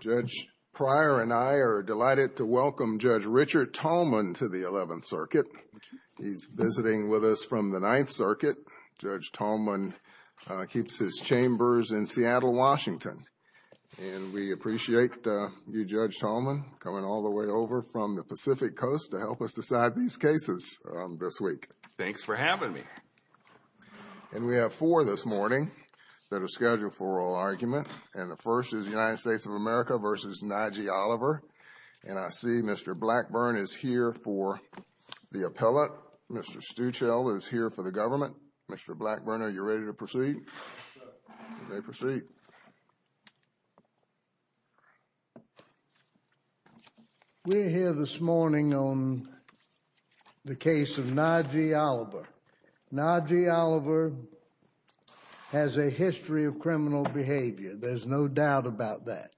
Judge Pryor and I are delighted to welcome Judge Richard Tallman to the 11th Circuit. He's visiting with us from the 9th Circuit. Judge Tallman keeps his chambers in Seattle, Washington. And we appreciate you, Judge Tallman, coming all the way over from the Pacific Coast to help us decide these cases this week. Thanks for having me. And we have four this morning that are scheduled for oral argument. And the first is United States of America v. Najee Oliver. And I see Mr. Blackburn is here for the appellate. Mr. Stuchel is here for the government. Mr. Blackburn, are you ready to proceed? Yes, sir. You may proceed. We're here this morning on the case of Najee Oliver. Najee Oliver has a history of criminal behavior. There's no doubt about that.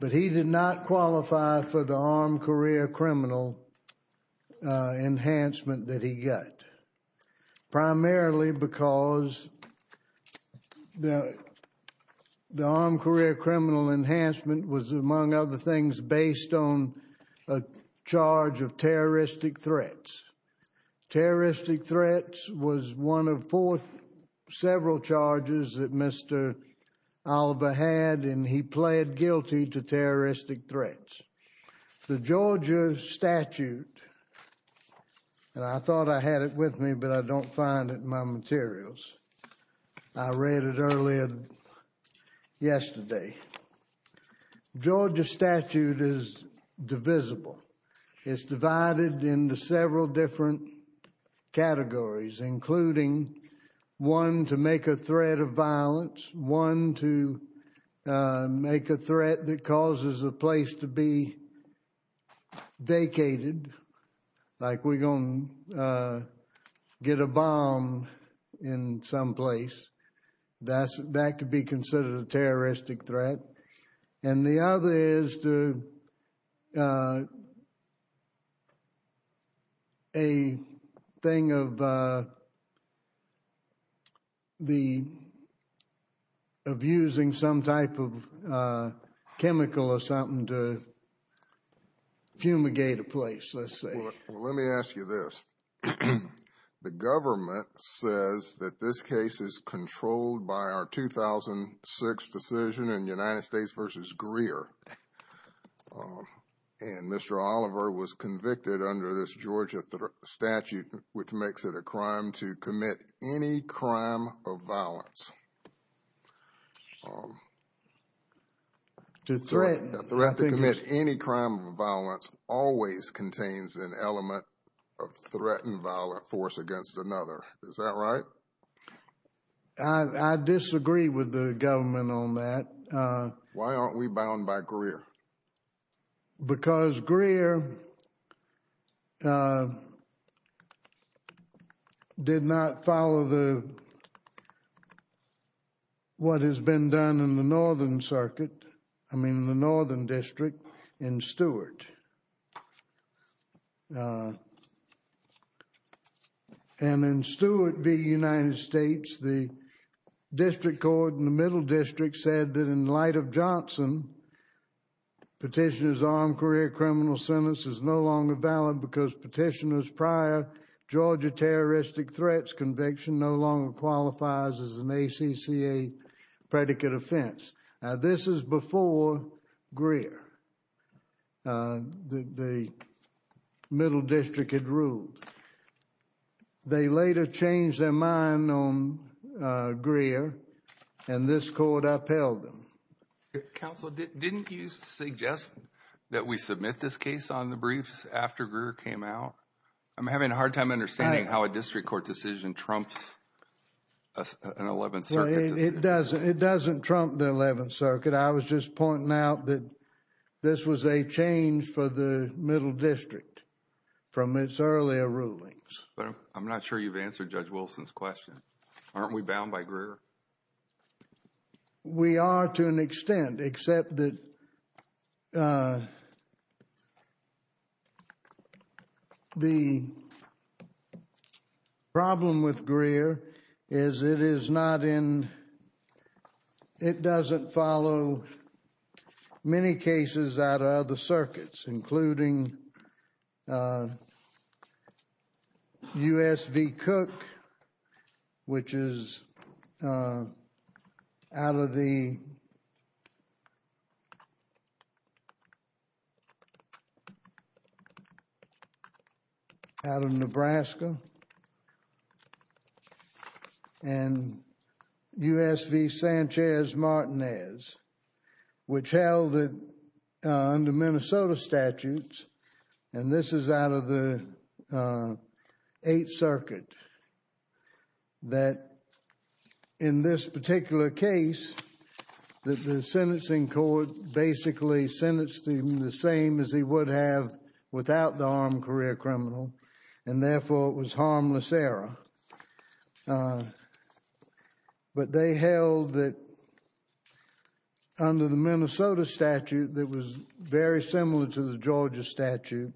But he did not qualify for the armed career criminal enhancement that he got. Primarily because the armed career criminal enhancement was, among other things, based on a charge of terroristic threats. Terroristic threats was one of four several charges that Mr. Oliver had, and he pled guilty to terroristic threats. The Georgia statute, and I thought I had it with me, but I don't find it in my materials. I read it earlier yesterday. Georgia statute is divisible. It's divided into several different categories, including one to make a threat of violence, one to make a threat that causes a place to be vacated, like we're going to get a bomb in some place. That could be considered a terroristic threat. And the other is a thing of using some type of chemical or something to fumigate a place, let's say. Well, let me ask you this. The government says that this case is controlled by our 2006 decision in United States v. Greer. And Mr. Oliver was convicted under this Georgia statute, which makes it a crime to commit any crime of violence. A threat to commit any crime of violence always contains an element of threatened violent force against another. Is that right? I disagree with the government on that. Because Greer did not follow what has been done in the Northern Circuit, I mean the Northern District, in Stewart. And in Stewart v. United States, the district court in the Middle District said that in light of Johnson, petitioner's armed career criminal sentence is no longer valid because petitioner's prior Georgia terroristic threats conviction no longer qualifies as an ACCA predicate offense. Now, this is before Greer. The Middle District had ruled. They later changed their mind on Greer and this court upheld them. Counsel, didn't you suggest that we submit this case on the briefs after Greer came out? I'm having a hard time understanding how a district court decision trumps an Eleventh Circuit decision. No, it doesn't. It doesn't trump the Eleventh Circuit. I was just pointing out that this was a change for the Middle District from its earlier rulings. I'm not sure you've answered Judge Wilson's question. Aren't we bound by Greer? We are to an extent, except that the problem with Greer is it doesn't follow many cases out of other circuits, including U.S. v. Cook, which is out of Nebraska and U.S. v. Sanchez-Martinez, which held that under Minnesota statutes, and this is out of the Eighth Circuit, that in this particular case that the sentencing court basically sentenced him the same as he would have without the armed career criminal and, therefore, it was harmless error. But they held that under the Minnesota statute, that was very similar to the Georgia statute,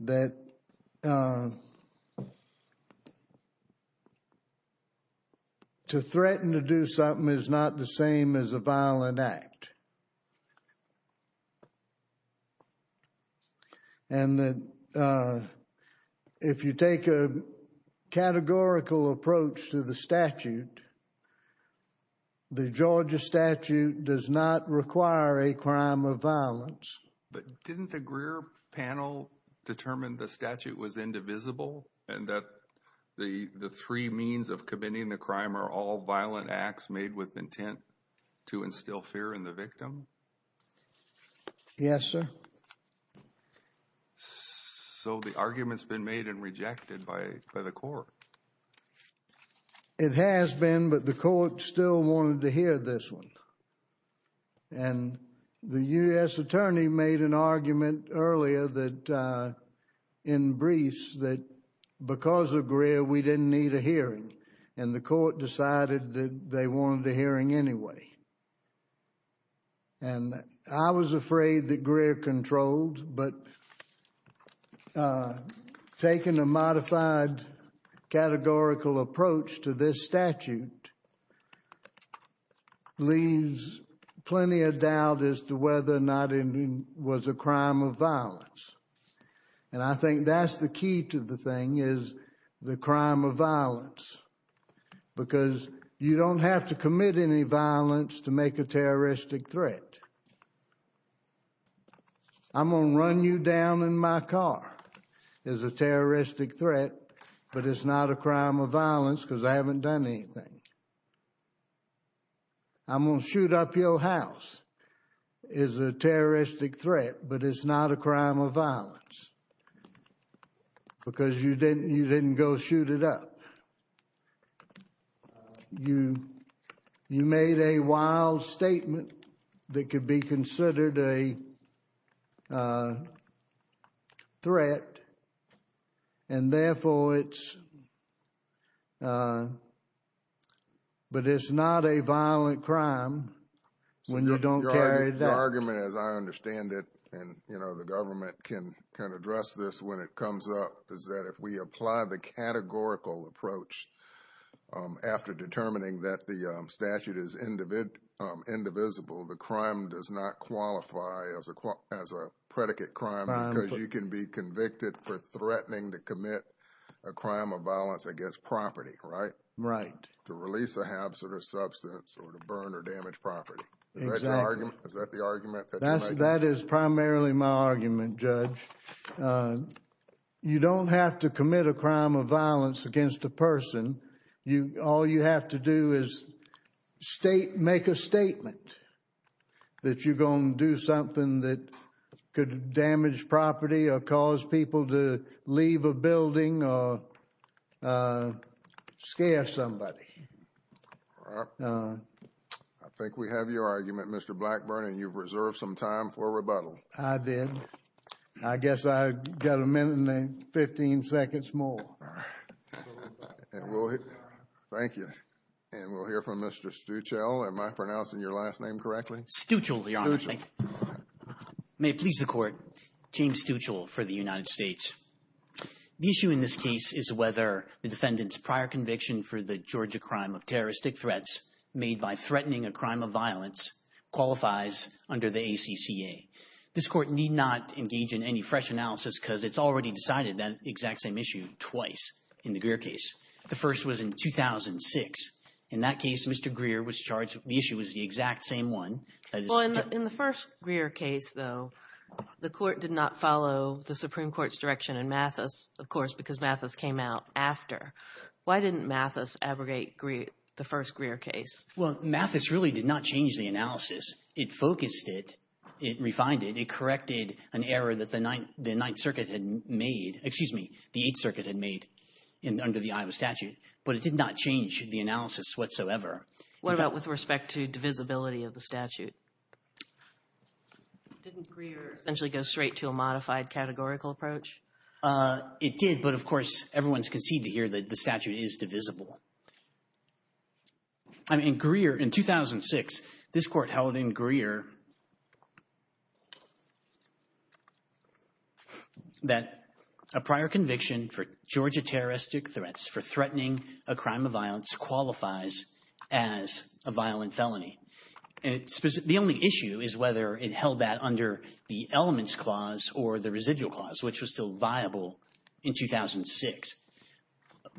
that to threaten to do something is not the same as a violent act. And that if you take a categorical approach to the statute, the Georgia statute does not require a crime of violence. But didn't the Greer panel determine the statute was indivisible and that the three means of committing the crime are all violent acts made with intent to instill fear in the victim? Yes, sir. So the argument's been made and rejected by the court. It has been, but the court still wanted to hear this one. And the U.S. attorney made an argument earlier that, in briefs, that because of Greer, we didn't need a hearing. And the court decided that they wanted a hearing anyway. And I was afraid that Greer controlled, but taking a modified categorical approach to this statute leaves plenty of doubt as to whether or not it was a crime of violence. And I think that's the key to the thing, is the crime of violence. Because you don't have to commit any violence to make a terroristic threat. I'm going to run you down in my car as a terroristic threat, but it's not a crime of violence because I haven't done anything. I'm going to shoot up your house as a terroristic threat, but it's not a crime of violence because you didn't go shoot it up. You made a wild statement that could be considered a threat, and therefore it's, but it's not a violent crime when you don't carry it out. The argument, as I understand it, and the government can address this when it comes up, is that if we apply the categorical approach after determining that the statute is indivisible, the crime does not qualify as a predicate crime because you can be convicted for threatening to commit a crime of violence against property, right? Right. To release a habit or substance or to burn or damage property. Exactly. Is that the argument that you make? That is primarily my argument, Judge. You don't have to commit a crime of violence against a person. All you have to do is make a statement that you're going to do something that could damage property or cause people to leave a building or scare somebody. All right. I think we have your argument, Mr. Blackburn, and you've reserved some time for rebuttal. I did. I guess I've got a minute and 15 seconds more. Thank you. And we'll hear from Mr. Stuchel. Am I pronouncing your last name correctly? Stuchel, Your Honor. May it please the Court. James Stuchel for the United States. The issue in this case is whether the defendant's prior conviction for the Georgia crime of terroristic threats made by threatening a crime of violence qualifies under the ACCA. This Court need not engage in any fresh analysis because it's already decided that exact same issue twice in the Greer case. The first was in 2006. In that case, Mr. Greer was charged the issue was the exact same one. Well, in the first Greer case, though, the Court did not follow the Supreme Court's direction in Mathis, of course, because Mathis came out after. Why didn't Mathis abrogate the first Greer case? Well, Mathis really did not change the analysis. It focused it. It refined it. It corrected an error that the Ninth Circuit had made. Excuse me, the Eighth Circuit had made under the Iowa statute, but it did not change the analysis whatsoever. What about with respect to divisibility of the statute? Didn't Greer essentially go straight to a modified categorical approach? It did, but, of course, everyone's conceded here that the statute is divisible. In 2006, this Court held in Greer that a prior conviction for Georgia terroristic threats for threatening a crime of violence qualifies as a violent felony. The only issue is whether it held that under the elements clause or the residual clause, which was still viable in 2006.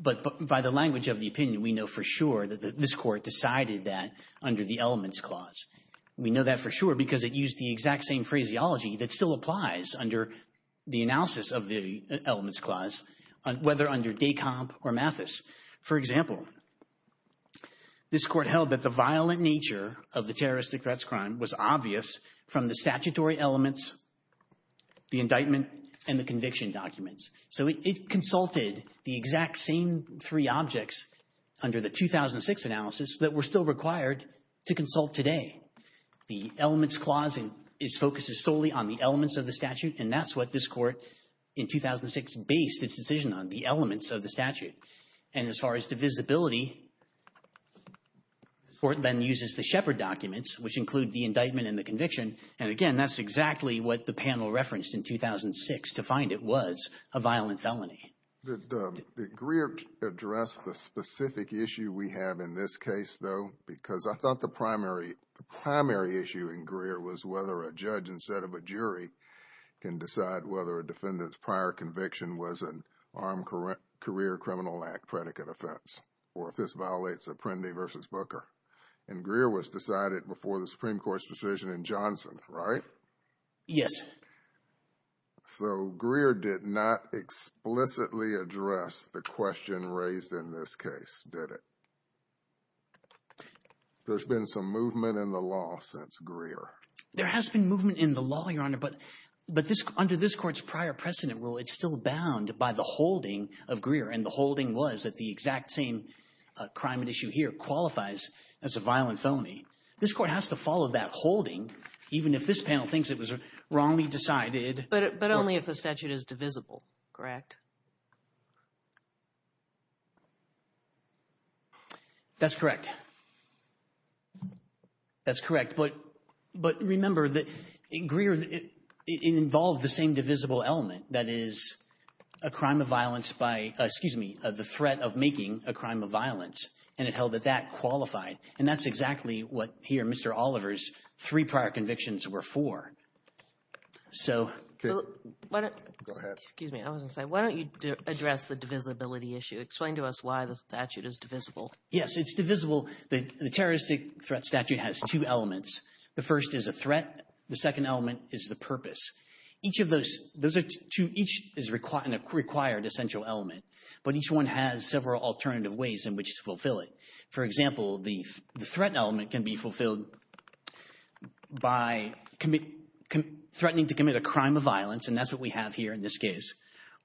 But by the language of the opinion, we know for sure that this Court decided that under the elements clause. We know that for sure because it used the exact same phraseology that still applies under the analysis of the elements clause, whether under DECOMP or Mathis. For example, this Court held that the violent nature of the terroristic threats crime was obvious from the statutory elements, the indictment, and the conviction documents. So it consulted the exact same three objects under the 2006 analysis that were still required to consult today. The elements clause focuses solely on the elements of the statute, and that's what this Court in 2006 based its decision on, the elements of the statute. And as far as divisibility, the Court then uses the Shepard documents, which include the indictment and the conviction. And again, that's exactly what the panel referenced in 2006 to find it was a violent felony. Did Greer address the specific issue we have in this case, though? Because I thought the primary issue in Greer was whether a judge instead of a jury can decide whether a defendant's prior conviction was an Armed Career Criminal Act predicate offense or if this violates Apprendi v. Booker. And Greer was decided before the Supreme Court's decision in Johnson, right? Yes. So Greer did not explicitly address the question raised in this case, did it? There's been some movement in the law since Greer. There has been movement in the law, Your Honor, but under this Court's prior precedent rule, it's still bound by the holding of Greer. And the holding was that the exact same crime at issue here qualifies as a violent felony. This Court has to follow that holding even if this panel thinks it was wrongly decided. But only if the statute is divisible, correct? That's correct. That's correct. But remember that Greer involved the same divisible element, that is, a crime of violence by, excuse me, the threat of making a crime of violence, and it held that that qualified. And that's exactly what here Mr. Oliver's three prior convictions were for. So why don't you address the divisibility issue? Explain to us why the statute is divisible. Yes, it's divisible. The terroristic threat statute has two elements. The first is a threat. The second element is the purpose. Each of those, those are two, each is a required essential element. But each one has several alternative ways in which to fulfill it. For example, the threat element can be fulfilled by threatening to commit a crime of violence, and that's what we have here in this case,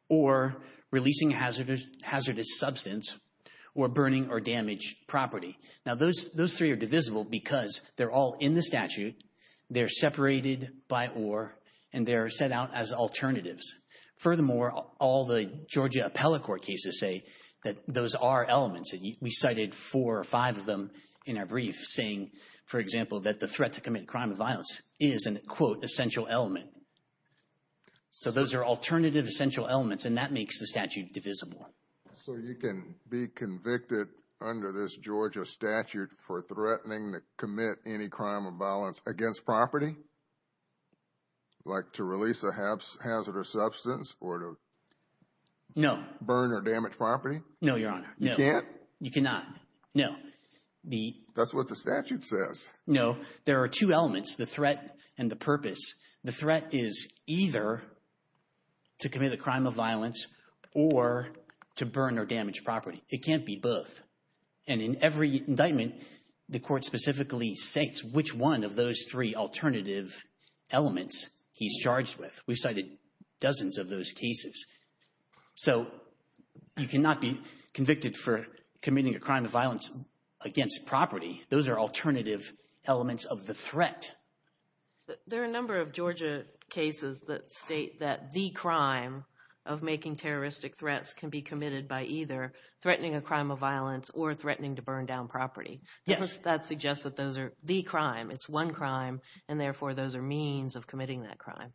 or releasing hazardous substance or burning or damaged property. Now, those three are divisible because they're all in the statute, they're separated by or, and they're set out as alternatives. Furthermore, all the Georgia appellate court cases say that those are elements, and we cited four or five of them in our brief saying, for example, that the threat to commit crime of violence is an, quote, essential element. So those are alternative essential elements, and that makes the statute divisible. So you can be convicted under this Georgia statute for threatening to commit any crime of violence against property? Like to release a hazardous substance or to burn or damage property? No, Your Honor. You can't? You cannot. No. That's what the statute says. No. There are two elements, the threat and the purpose. The threat is either to commit a crime of violence or to burn or damage property. It can't be both. And in every indictment, the court specifically states which one of those three alternative elements he's charged with. We've cited dozens of those cases. So you cannot be convicted for committing a crime of violence against property. There are a number of Georgia cases that state that the crime of making terroristic threats can be committed by either threatening a crime of violence or threatening to burn down property. Yes. That suggests that those are the crime. It's one crime, and therefore, those are means of committing that crime.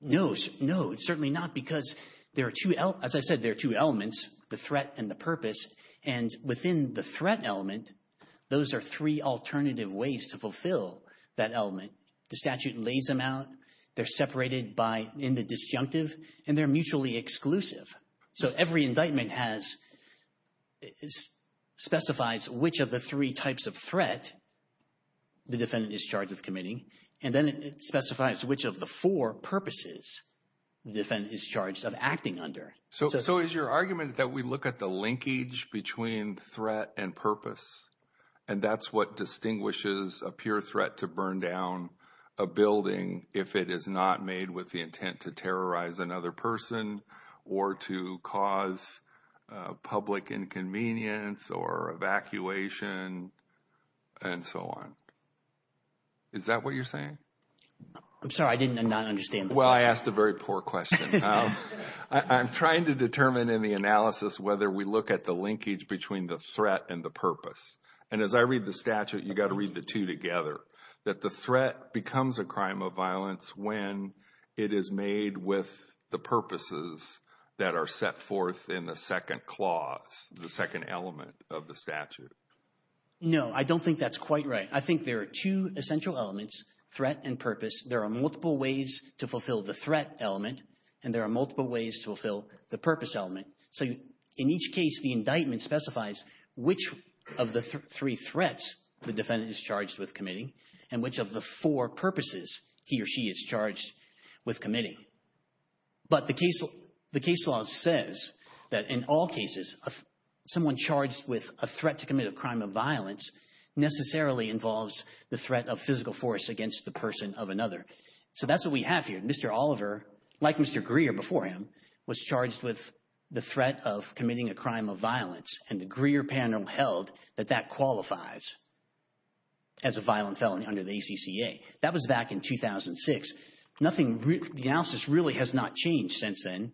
No. No, certainly not, because there are two – as I said, there are two elements, the threat and the purpose. And within the threat element, those are three alternative ways to fulfill that element. The statute lays them out. They're separated by in the disjunctive, and they're mutually exclusive. So every indictment has – specifies which of the three types of threat the defendant is charged with committing, and then it specifies which of the four purposes the defendant is charged of acting under. So is your argument that we look at the linkage between threat and purpose, and that's what distinguishes a pure threat to burn down a building if it is not made with the intent to terrorize another person or to cause public inconvenience or evacuation and so on? Is that what you're saying? I'm sorry. I did not understand the question. Well, I asked a very poor question. I'm trying to determine in the analysis whether we look at the linkage between the threat and the purpose. And as I read the statute, you've got to read the two together, that the threat becomes a crime of violence when it is made with the purposes that are set forth in the second clause, the second element of the statute. No, I don't think that's quite right. I think there are two essential elements, threat and purpose. There are multiple ways to fulfill the threat element, and there are multiple ways to fulfill the purpose element. So in each case, the indictment specifies which of the three threats the defendant is charged with committing and which of the four purposes he or she is charged with committing. But the case law says that in all cases, someone charged with a threat to commit a crime of violence necessarily involves the threat of physical force against the person of another. So that's what we have here. Mr. Oliver, like Mr. Greer before him, was charged with the threat of committing a crime of violence, and the Greer panel held that that qualifies as a violent felony under the ACCA. That was back in 2006. The analysis really has not changed since then.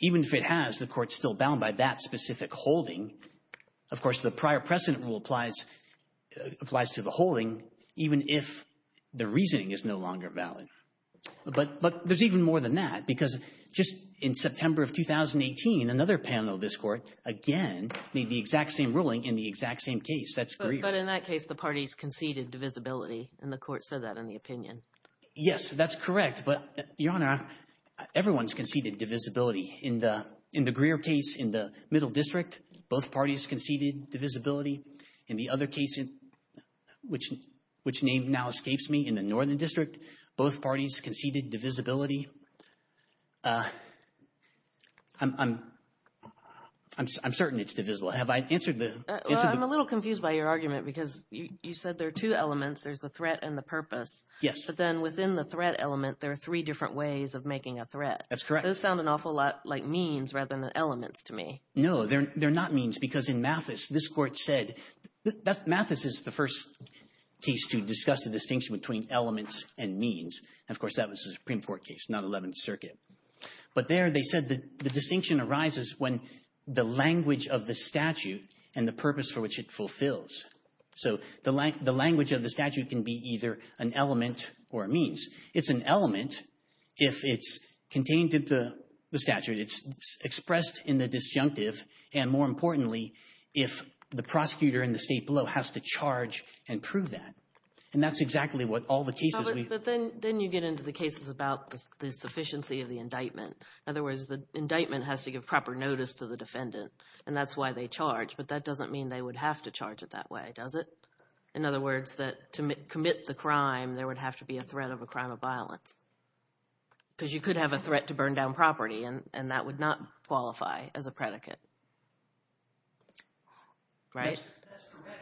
Even if it has, the court's still bound by that specific holding. Of course, the prior precedent rule applies to the holding even if the reasoning is no longer valid. But there's even more than that because just in September of 2018, another panel of this court, again, made the exact same ruling in the exact same case. That's Greer. But in that case, the parties conceded divisibility, and the court said that in the opinion. Yes, that's correct. But, Your Honor, everyone's conceded divisibility. In the Greer case in the Middle District, both parties conceded divisibility. In the other case, which name now escapes me, in the Northern District, both parties conceded divisibility. I'm certain it's divisible. Have I answered the question? I'm a little confused by your argument because you said there are two elements. There's the threat and the purpose. Yes. But then within the threat element, there are three different ways of making a threat. That's correct. Those sound an awful lot like means rather than elements to me. No, they're not means because in Mathis, this Court said that Mathis is the first case to discuss the distinction between elements and means. Of course, that was a Supreme Court case, not Eleventh Circuit. But there they said the distinction arises when the language of the statute and the purpose for which it fulfills. So the language of the statute can be either an element or a means. It's an element if it's contained in the statute. It's expressed in the disjunctive and, more importantly, if the prosecutor in the State below has to charge and prove that. And that's exactly what all the cases we – But then you get into the cases about the sufficiency of the indictment. In other words, the indictment has to give proper notice to the defendant, and that's why they charge. But that doesn't mean they would have to charge it that way, does it? In other words, that to commit the crime, there would have to be a threat of a crime of violence because you could have a threat to burn down property, and that would not qualify as a predicate, right?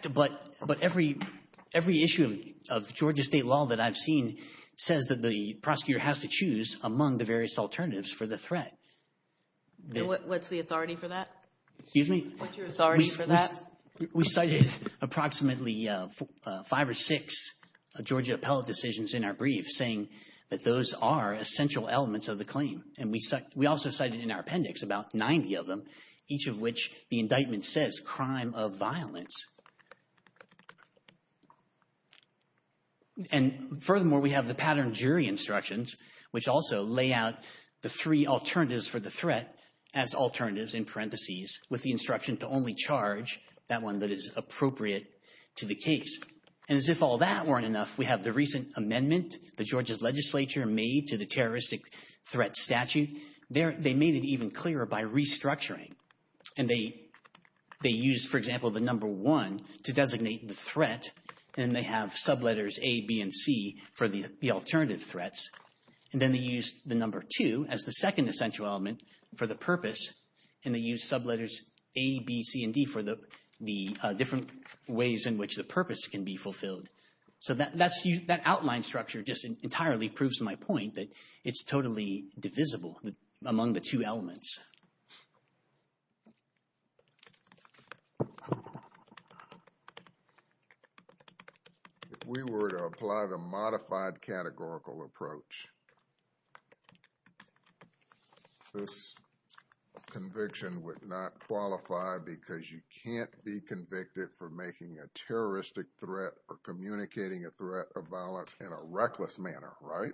That's correct, but every issue of Georgia State law that I've seen says that the prosecutor has to choose among the various alternatives for the threat. What's the authority for that? Excuse me? What's your authority for that? We cited approximately five or six Georgia appellate decisions in our brief saying that those are essential elements of the claim. And we also cited in our appendix about 90 of them, each of which the indictment says crime of violence. And furthermore, we have the pattern jury instructions, which also lay out the three alternatives for the threat as alternatives in parentheses with the instruction to only charge that one that is appropriate to the case. And as if all that weren't enough, we have the recent amendment the Georgia's legislature made to the terroristic threat statute. They made it even clearer by restructuring, and they used, for example, the number one to designate the threat, and they have subletters A, B, and C for the alternative threats. And then they used the number two as the second essential element for the purpose, and they used subletters A, B, C, and D for the different ways in which the purpose can be fulfilled. So that outline structure just entirely proves my point that it's totally divisible among the two elements. If we were to apply the modified categorical approach, this conviction would not qualify because you can't be convicted for making a terroristic threat or communicating a threat of violence in a reckless manner, right?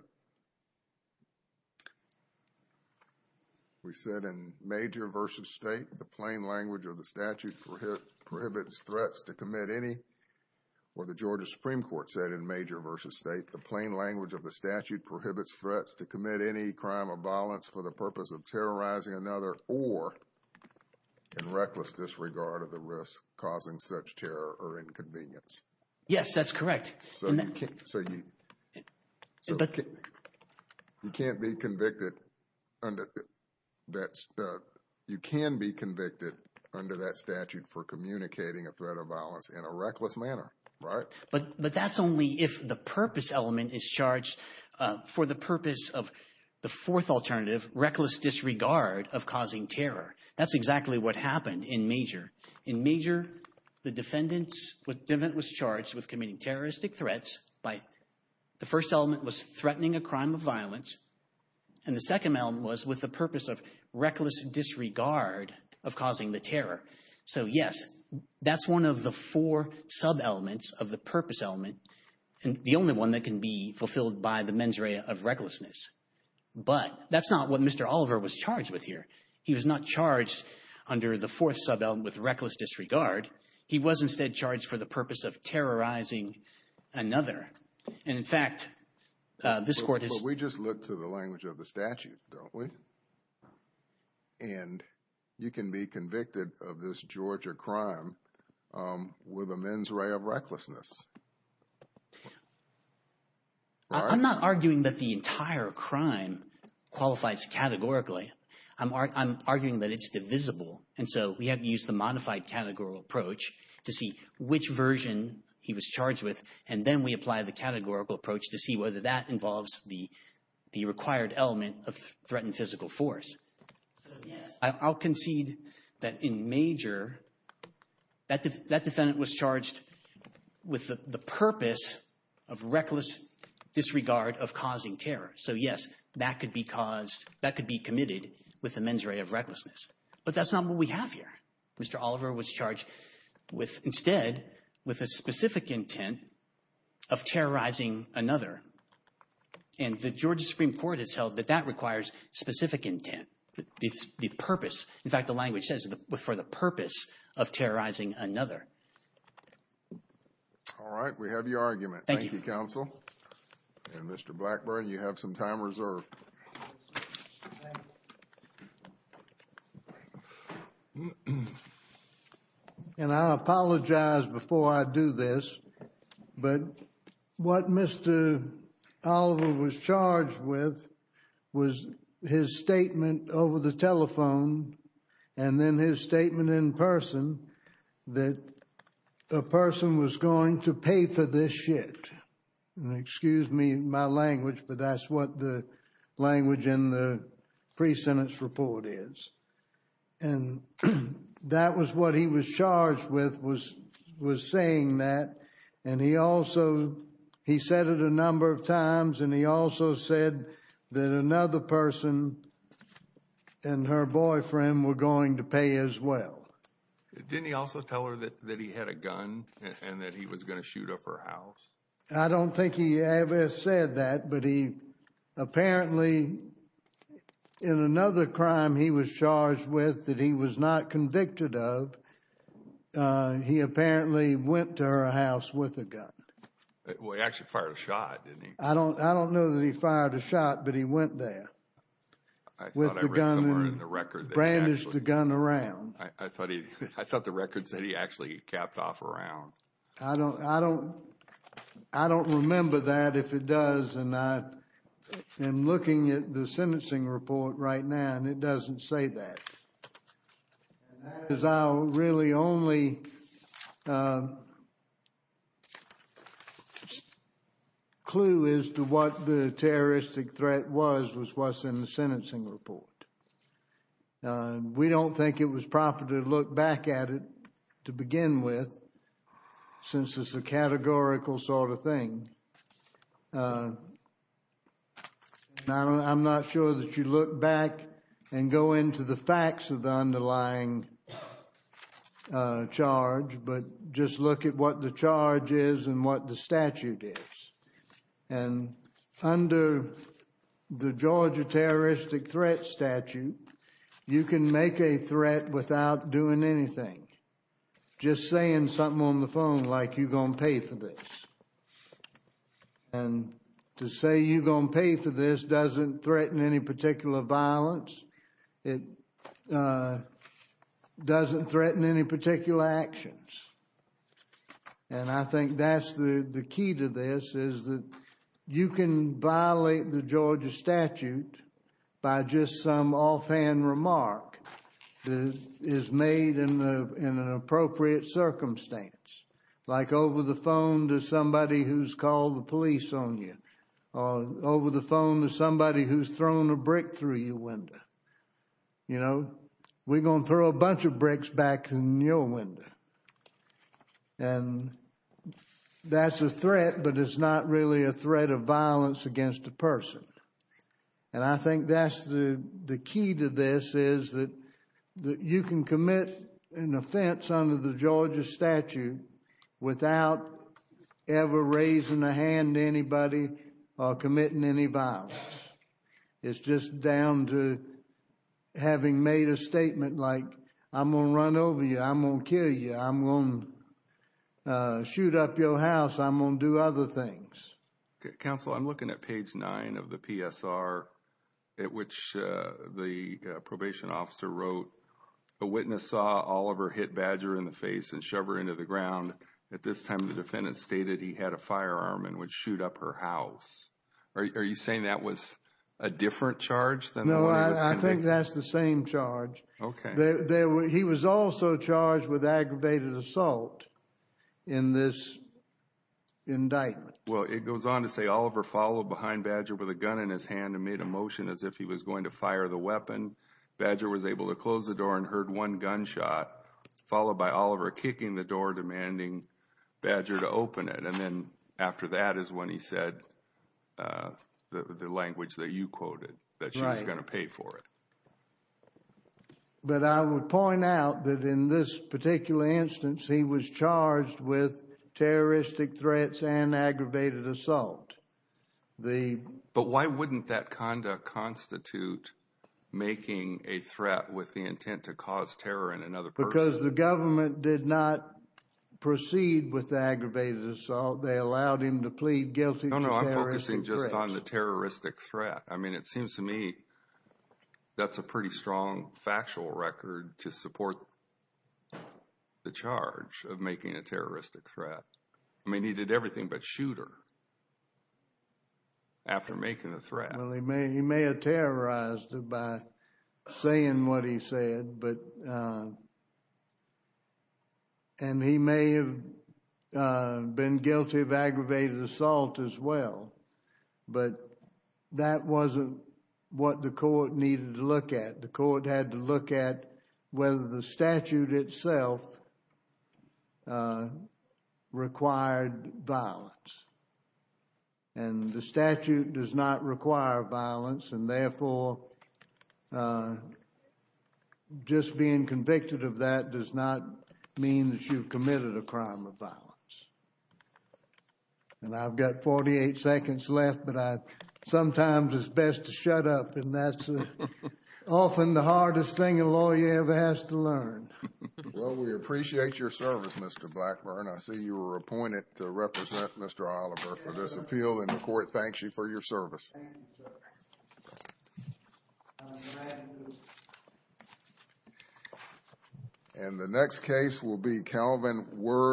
We said in major versus state, the plain language of the statute prohibits threats to commit any, or the Georgia Supreme Court said in major versus state, the plain language of the statute prohibits threats to commit any crime of violence for the purpose of terrorizing another or in reckless disregard of the risk causing such terror or inconvenience. Yes, that's correct. So you can't be convicted under that statute for communicating a threat of violence in a reckless manner, right? But that's only if the purpose element is charged for the purpose of the fourth alternative, reckless disregard of causing terror. That's exactly what happened in major. In major, the defendant was charged with committing terroristic threats. The first element was threatening a crime of violence, and the second element was with the purpose of reckless disregard of causing the terror. So yes, that's one of the four sub-elements of the purpose element and the only one that can be fulfilled by the mens rea of recklessness. But that's not what Mr. Oliver was charged with here. He was not charged under the fourth sub-element with reckless disregard. He was instead charged for the purpose of terrorizing another. And in fact, this court has… But we just look to the language of the statute, don't we? And you can be convicted of this Georgia crime with a mens rea of recklessness. I'm not arguing that the entire crime qualifies categorically. I'm arguing that it's divisible. And so we have to use the modified categorical approach to see which version he was charged with. And then we apply the categorical approach to see whether that involves the required element of threatened physical force. So yes, I'll concede that in major, that defendant was charged with the purpose of reckless disregard of causing terror. So yes, that could be caused – that could be committed with the mens rea of recklessness. But that's not what we have here. Mr. Oliver was charged with – instead with a specific intent of terrorizing another. And the Georgia Supreme Court has held that that requires specific intent. The purpose – in fact, the language says for the purpose of terrorizing another. Thank you, Counsel. And Mr. Blackburn, you have some time reserved. And I apologize before I do this, but what Mr. Oliver was charged with was his statement over the telephone and then his statement in person that a person was going to pay for this shit. And excuse me, my language, but that's what the language in the pre-sentence report is. And that was what he was charged with, was saying that. And he also – he said it a number of times and he also said that another person and her boyfriend were going to pay as well. Didn't he also tell her that he had a gun and that he was going to shoot up her house? I don't think he ever said that, but he apparently – in another crime he was charged with that he was not convicted of, he apparently went to her house with a gun. Well, he actually fired a shot, didn't he? I don't know that he fired a shot, but he went there with the gun and brandished the gun around. I thought the record said he actually capped off around. I don't remember that if it does, and I'm looking at the sentencing report right now and it doesn't say that. And that is our really only clue as to what the terroristic threat was, was what's in the sentencing report. We don't think it was proper to look back at it to begin with since it's a categorical sort of thing. I'm not sure that you look back and go into the facts of the underlying charge, but just look at what the charge is and what the statute is. And under the Georgia terroristic threat statute, you can make a threat without doing anything, just saying something on the phone like, you're going to pay for this. And to say you're going to pay for this doesn't threaten any particular violence. It doesn't threaten any particular actions. And I think that's the key to this, is that you can violate the Georgia statute by just some offhand remark that is made in an appropriate circumstance, like over the phone to somebody who's called the police on you, or over the phone to somebody who's thrown a brick through your window. You know, we're going to throw a bunch of bricks back in your window. And that's a threat, but it's not really a threat of violence against a person. And I think that's the key to this, is that you can commit an offense under the Georgia statute without ever raising a hand to anybody or committing any violence. It's just down to having made a statement like, I'm going to run over you. I'm going to kill you. I'm going to shoot up your house. I'm going to do other things. Counsel, I'm looking at page 9 of the PSR, at which the probation officer wrote, a witness saw Oliver hit Badger in the face and shove her into the ground. At this time, the defendant stated he had a firearm and would shoot up her house. Are you saying that was a different charge? No, I think that's the same charge. Okay. He was also charged with aggravated assault in this indictment. Well, it goes on to say Oliver followed behind Badger with a gun in his hand and made a motion as if he was going to fire the weapon. Badger was able to close the door and heard one gunshot, followed by Oliver kicking the door, demanding Badger to open it. And then after that is when he said the language that you quoted, that she was going to pay for it. But I would point out that in this particular instance, he was charged with terroristic threats and aggravated assault. But why wouldn't that conduct constitute making a threat with the intent to cause terror in another person? Because the government did not proceed with the aggravated assault. They allowed him to plead guilty to terroristic threats. No, no, I'm focusing just on the terroristic threat. I mean, it seems to me that's a pretty strong factual record to support the charge of making a terroristic threat. I mean, he did everything but shoot her after making the threat. Well, he may have terrorized her by saying what he said, and he may have been guilty of aggravated assault as well. But that wasn't what the court needed to look at. The court had to look at whether the statute itself required violence. And the statute does not require violence, and therefore, just being convicted of that does not mean that you've committed a crime of violence. And I've got 48 seconds left, but sometimes it's best to shut up, and that's often the hardest thing a lawyer ever has to learn. Well, we appreciate your service, Mr. Blackburn. I see you were appointed to represent Mr. Oliver for this appeal, and the court thanks you for your service. Thank you, Judge. And the next case will be Calvin Wirth.